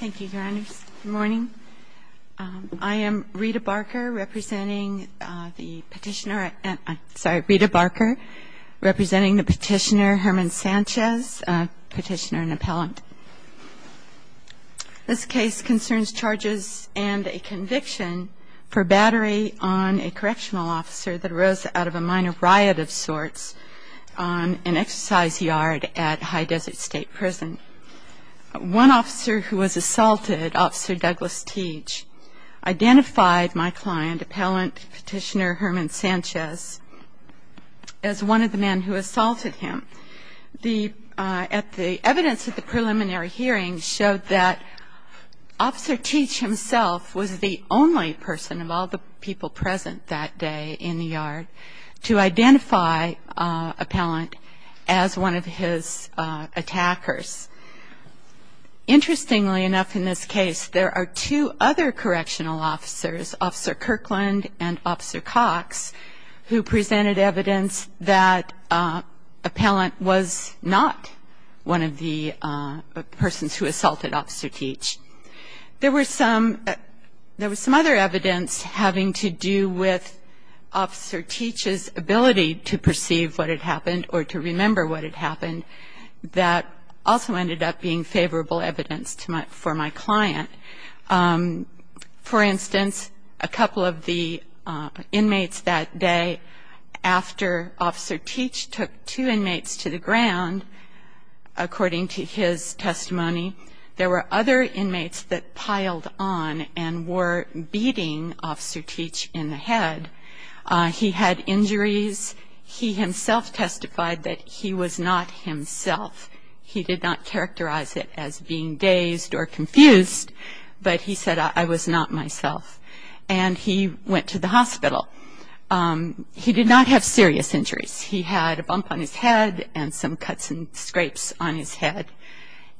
Good morning. I am Rita Barker representing the petitioner Herman Sanchez, a petitioner and appellant. This case concerns charges and a conviction for battery on a correctional officer that arose out of a minor riot of sorts on an exercise yard at High Desert State Prison. One officer who was assaulted, Officer Douglas Teach, identified my client, appellant petitioner Herman Sanchez, as one of the men who assaulted him. The evidence at the preliminary hearing showed that I identified appellant as one of his attackers. Interestingly enough in this case, there are two other correctional officers, Officer Kirkland and Officer Cox, who presented evidence that appellant was not one of the persons who assaulted Officer Teach. There was some other evidence having to do with Officer Teach's ability to perceive what had happened or to remember what had happened that also ended up being favorable evidence for my client. For instance, a couple of the inmates that day after Officer Teach took two inmates that piled on and were beating Officer Teach in the head, he had injuries. He himself testified that he was not himself. He did not characterize it as being dazed or confused, but he said, I was not myself. And he went to the hospital. He did not have serious injuries. He had a bump on his head and some cuts and scrapes on his head.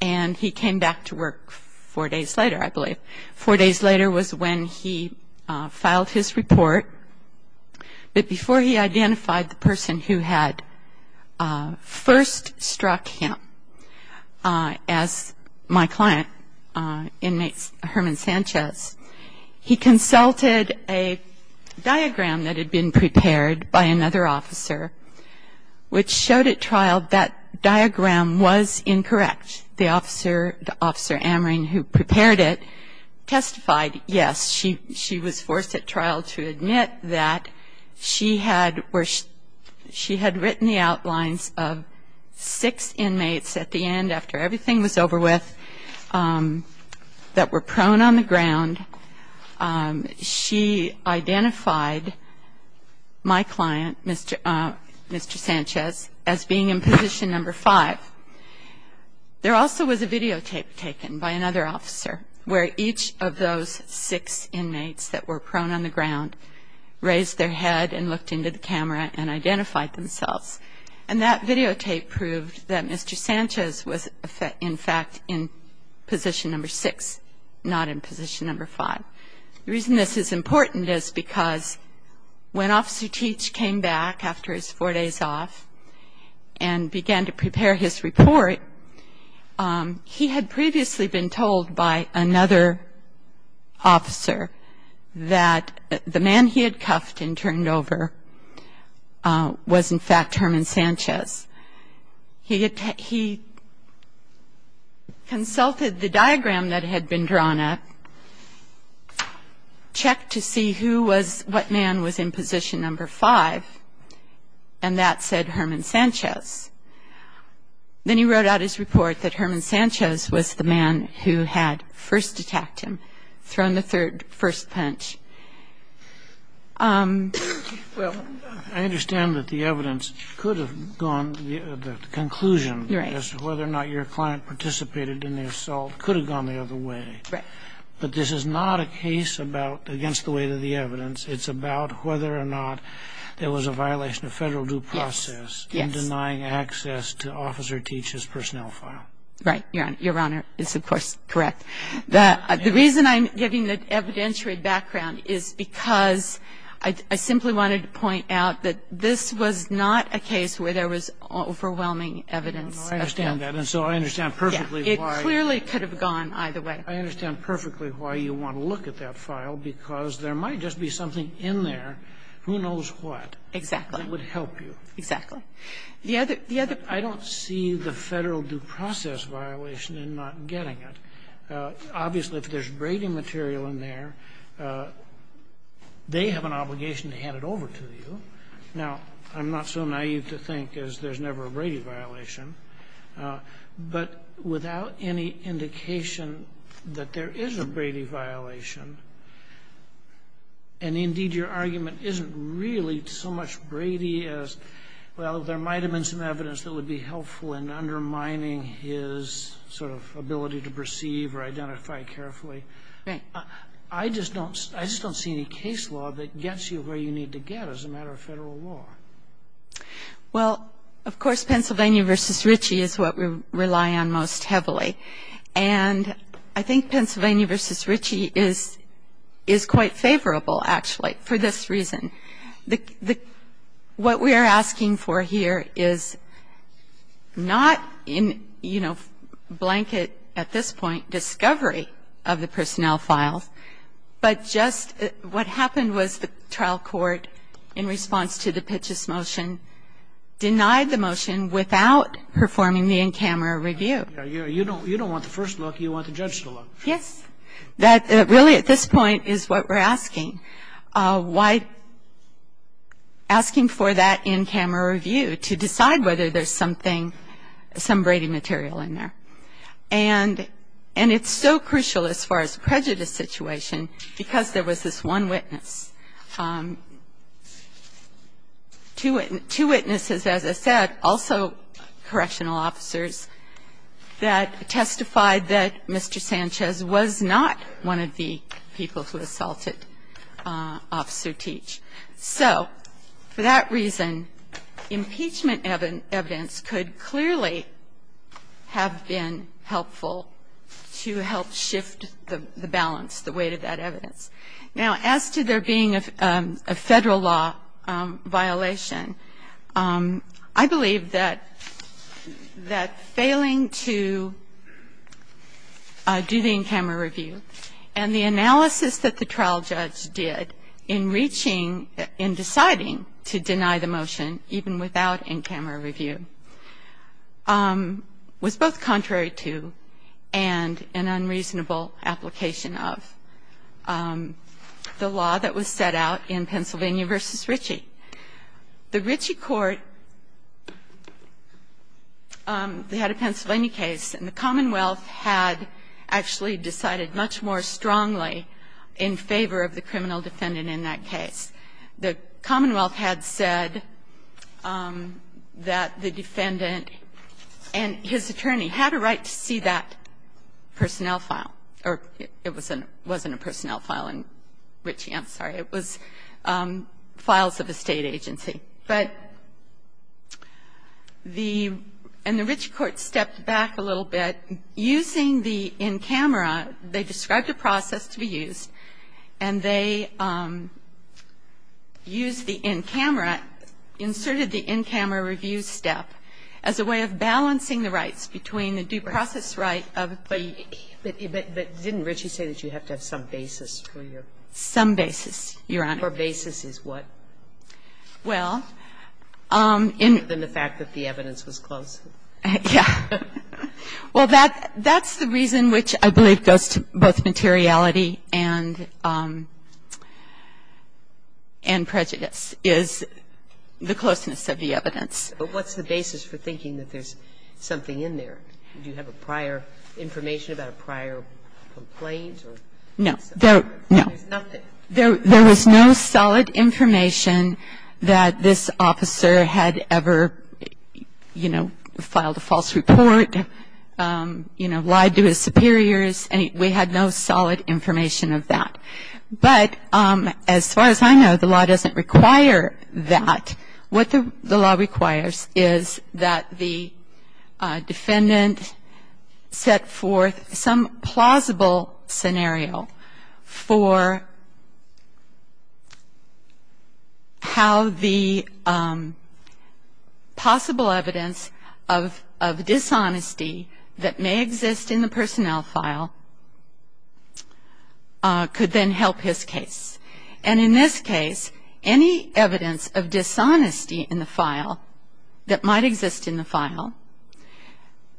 And he came back to work four days later, I believe. Four days later was when he filed his report. But before he identified the person who had first struck him as my client, inmate Herman Sanchez, he consulted a diagram that had been prepared by another officer, which showed at trial that diagram was incorrect. The officer, Officer Amring, who prepared it testified, yes, she was forced at trial to admit that she had written the outlines of six inmates at the end after everything was over with that were prone on the ground. She identified my client, Mr. Sanchez, as being in position number five. There also was a videotape taken by another officer where each of those six inmates that were prone on the ground raised their head and looked into the in fact in position number six, not in position number five. The reason this is important is because when Officer Teach came back after his four days off and began to prepare his report, he had previously been told by another officer that the man he had cuffed and turned over was, in fact, Herman Sanchez. He consulted the diagram that had been drawn up, checked to see who was, what man was in position number five, and that said Herman Sanchez. Then he wrote out his report that Herman Sanchez was the man who had first attacked him, thrown the first punch. I understand that the evidence could have gone, the conclusion as to whether or not your client participated in the assault could have gone the other way. But this is not a case about against the weight of the evidence. It's about whether or not there was a violation of Federal due process in denying access to Officer Teach's personnel file. Right, Your Honor. It's of course correct. The reason I'm giving the evidentiary background is because I simply wanted to point out that this was not a case where there was overwhelming evidence of theft. I understand that. And so I understand perfectly why. It clearly could have gone either way. I understand perfectly why you want to look at that file, because there might just be something in there, who knows what, that would help you. Exactly. Exactly. I don't see the Federal due process violation in not getting it. Obviously, if there's Brady material in there, they have an obligation to hand it over to you. Now, I'm not so naive to think as there's never a Brady violation, but without any indication that there is a Brady violation, and indeed your argument isn't really so much Brady as, well, there might have been some evidence that would be helpful in undermining his sort of ability to perceive or identify carefully. Right. I just don't see any case law that gets you where you need to get as a matter of Federal law. Well, of course, Pennsylvania v. Richey is what we rely on most heavily. And I think Pennsylvania v. Richey is quite favorable, actually, for this reason. What we are asking for here is not in, you know, blanket, at this point, discovery of the personnel files, but just what happened was the trial court in response to the Pitchess motion denied the motion without performing the in-camera review. You don't want the first look. You want the judge to look. Yes. That really, at this point, is what we're asking. Why? Asking for that in-camera review to decide whether there's something, some Brady material in there. And it's so crucial as far as prejudice situation because there was this one witness, two witnesses, as I said, also correctional officers that testified that Mr. Sanchez was not one of the people who assaulted Officer Teach. So for that reason, impeachment evidence could clearly have been helpful to help shift the balance, the weight of that evidence. Now, as to there being a Federal law violation, I believe that failing to do the in-camera review and the analysis that the trial judge did in reaching, in deciding to deny the motion even without in-camera review was both contrary to and an unreasonable application of the law that was set out in Pennsylvania v. Ritchie. The Ritchie court, they had a Pennsylvania case, and the Commonwealth had actually decided much more strongly in favor of the criminal defendant in that case. The Commonwealth had said that the defendant and his attorney had a right to see that personnel file, or it wasn't a personnel file in Ritchie, I'm sorry. It was files of a State agency. But the ‑‑ and the Ritchie court stepped back a little bit. Using the in-camera, they described a process to be used, and they used the in-camera, inserted the in-camera review step as a way of balancing the rights between the due process right of the ‑‑ But didn't Ritchie say that you have to have some basis for your ‑‑ Some basis, Your Honor. For basis is what? Well, in ‑‑ Other than the fact that the evidence was close. Yeah. Well, that's the reason which I believe goes to both materiality and prejudice, is the closeness of the evidence. But what's the basis for thinking that there's something in there? Do you have a prior information about a prior complaint? No. There's nothing? No. There was no solid information that this officer had ever, you know, filed a false report, you know, lied to his superiors. We had no solid information of that. But as far as I know, the law doesn't require that. What the law requires is that the defendant set forth some plausible scenario for how the possible evidence of dishonesty that may exist in the personnel file could then help his case. And in this case, any evidence of dishonesty in the file that might exist in the file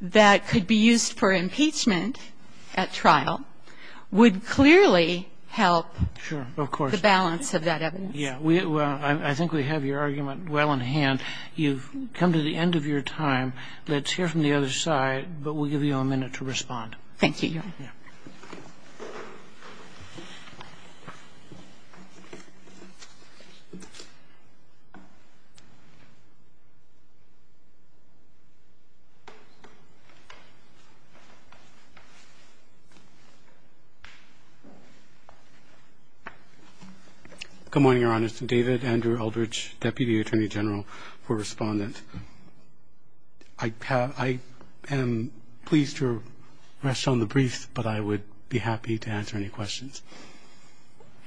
that could be used for impeachment at trial would clearly help the balance of that evidence. Sure. Of course. Yeah. Well, I think we have your argument well in hand. You've come to the end of your time. Let's hear from the other side, but we'll give you a minute to respond. Thank you, Your Honor. Yeah. Okay. Thank you. Thank you. Thank you. Thank you. I'll be happy to answer any questions.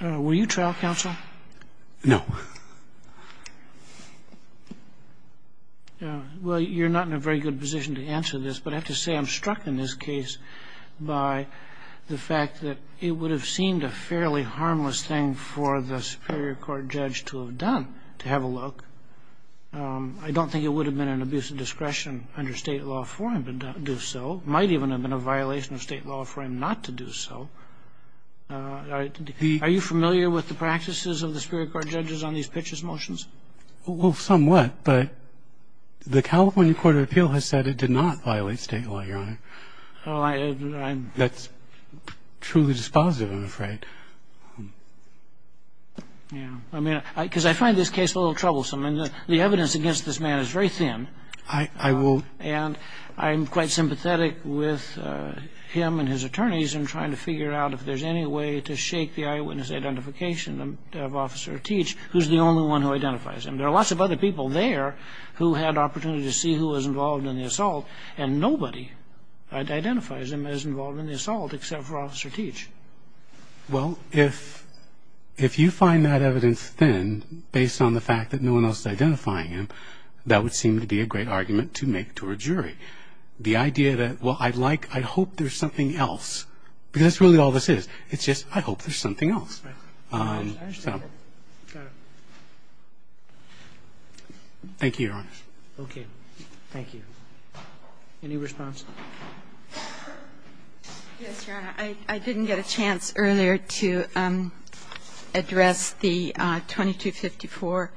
Were you trial counsel? No. Well, you're not in a very good position to answer this, but I have to say I'm struck in this case by the fact that it would have seemed a fairly harmless thing for the Superior Court judge to have done, to have a look. I don't think it would have been an abuse of discretion under state law for him to do so. It might even have been a violation of state law for him not to do so. Are you familiar with the practices of the Superior Court judges on these pitches motions? Well, somewhat, but the California Court of Appeal has said it did not violate state law, Your Honor. That's truly dispositive, I'm afraid. I mean, because I find this case a little troublesome. The evidence against this man is very thin. I will. And I'm quite sympathetic with him and his attorneys in trying to figure out if there's any way to shake the eyewitness identification of Officer Teach, who's the only one who identifies him. There are lots of other people there who had opportunity to see who was involved in the assault, and nobody identifies him as involved in the assault except for Officer Teach. Well, if you find that evidence thin based on the fact that no one else is identifying him, that would seem to be a great argument to make to a jury. The idea that, well, I'd like, I'd hope there's something else, because that's really all this is. It's just, I hope there's something else. Thank you, Your Honor. Okay. Thank you. Any response? Yes, Your Honor. I didn't get a chance earlier to address the 2254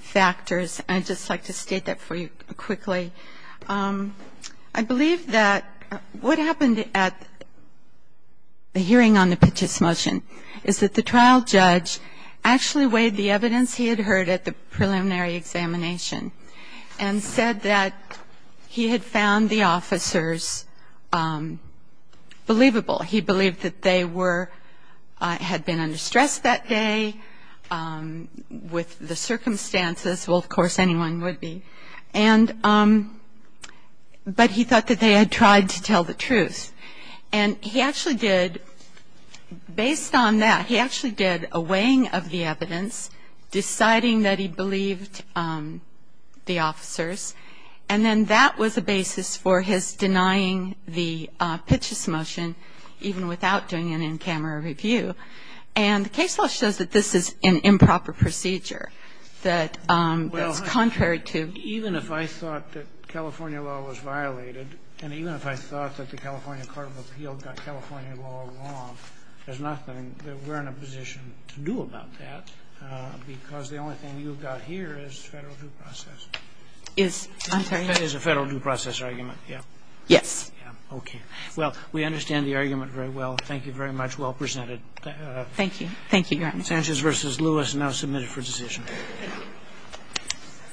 factors. I'd just like to state that for you quickly. I believe that what happened at the hearing on the Pitch's motion is that the trial judge actually weighed the evidence he had heard at the preliminary examination and said that he had found the officers believable. He believed that they were, had been under stress that day with the circumstances. Well, of course, anyone would be. But he thought that they had tried to tell the truth. And he actually did, based on that, he actually did a weighing of the evidence, deciding that he believed the officers, and then that was a basis for his denying the Pitch's motion even without doing an in-camera review. And the case law shows that this is an improper procedure, that it's contrary to. Even if I thought that California law was violated, and even if I thought that the California Court of Appeal got California law wrong, there's nothing that we're in a position to do about that, because the only thing you've got here is Federal due process. Is, I'm sorry. That is a Federal due process argument, yes. Yes. Okay. Well, we understand the argument very well. Thank you very much. Well presented. Thank you. Thank you, Your Honor. Sanchez v. Lewis, now submitted for decision.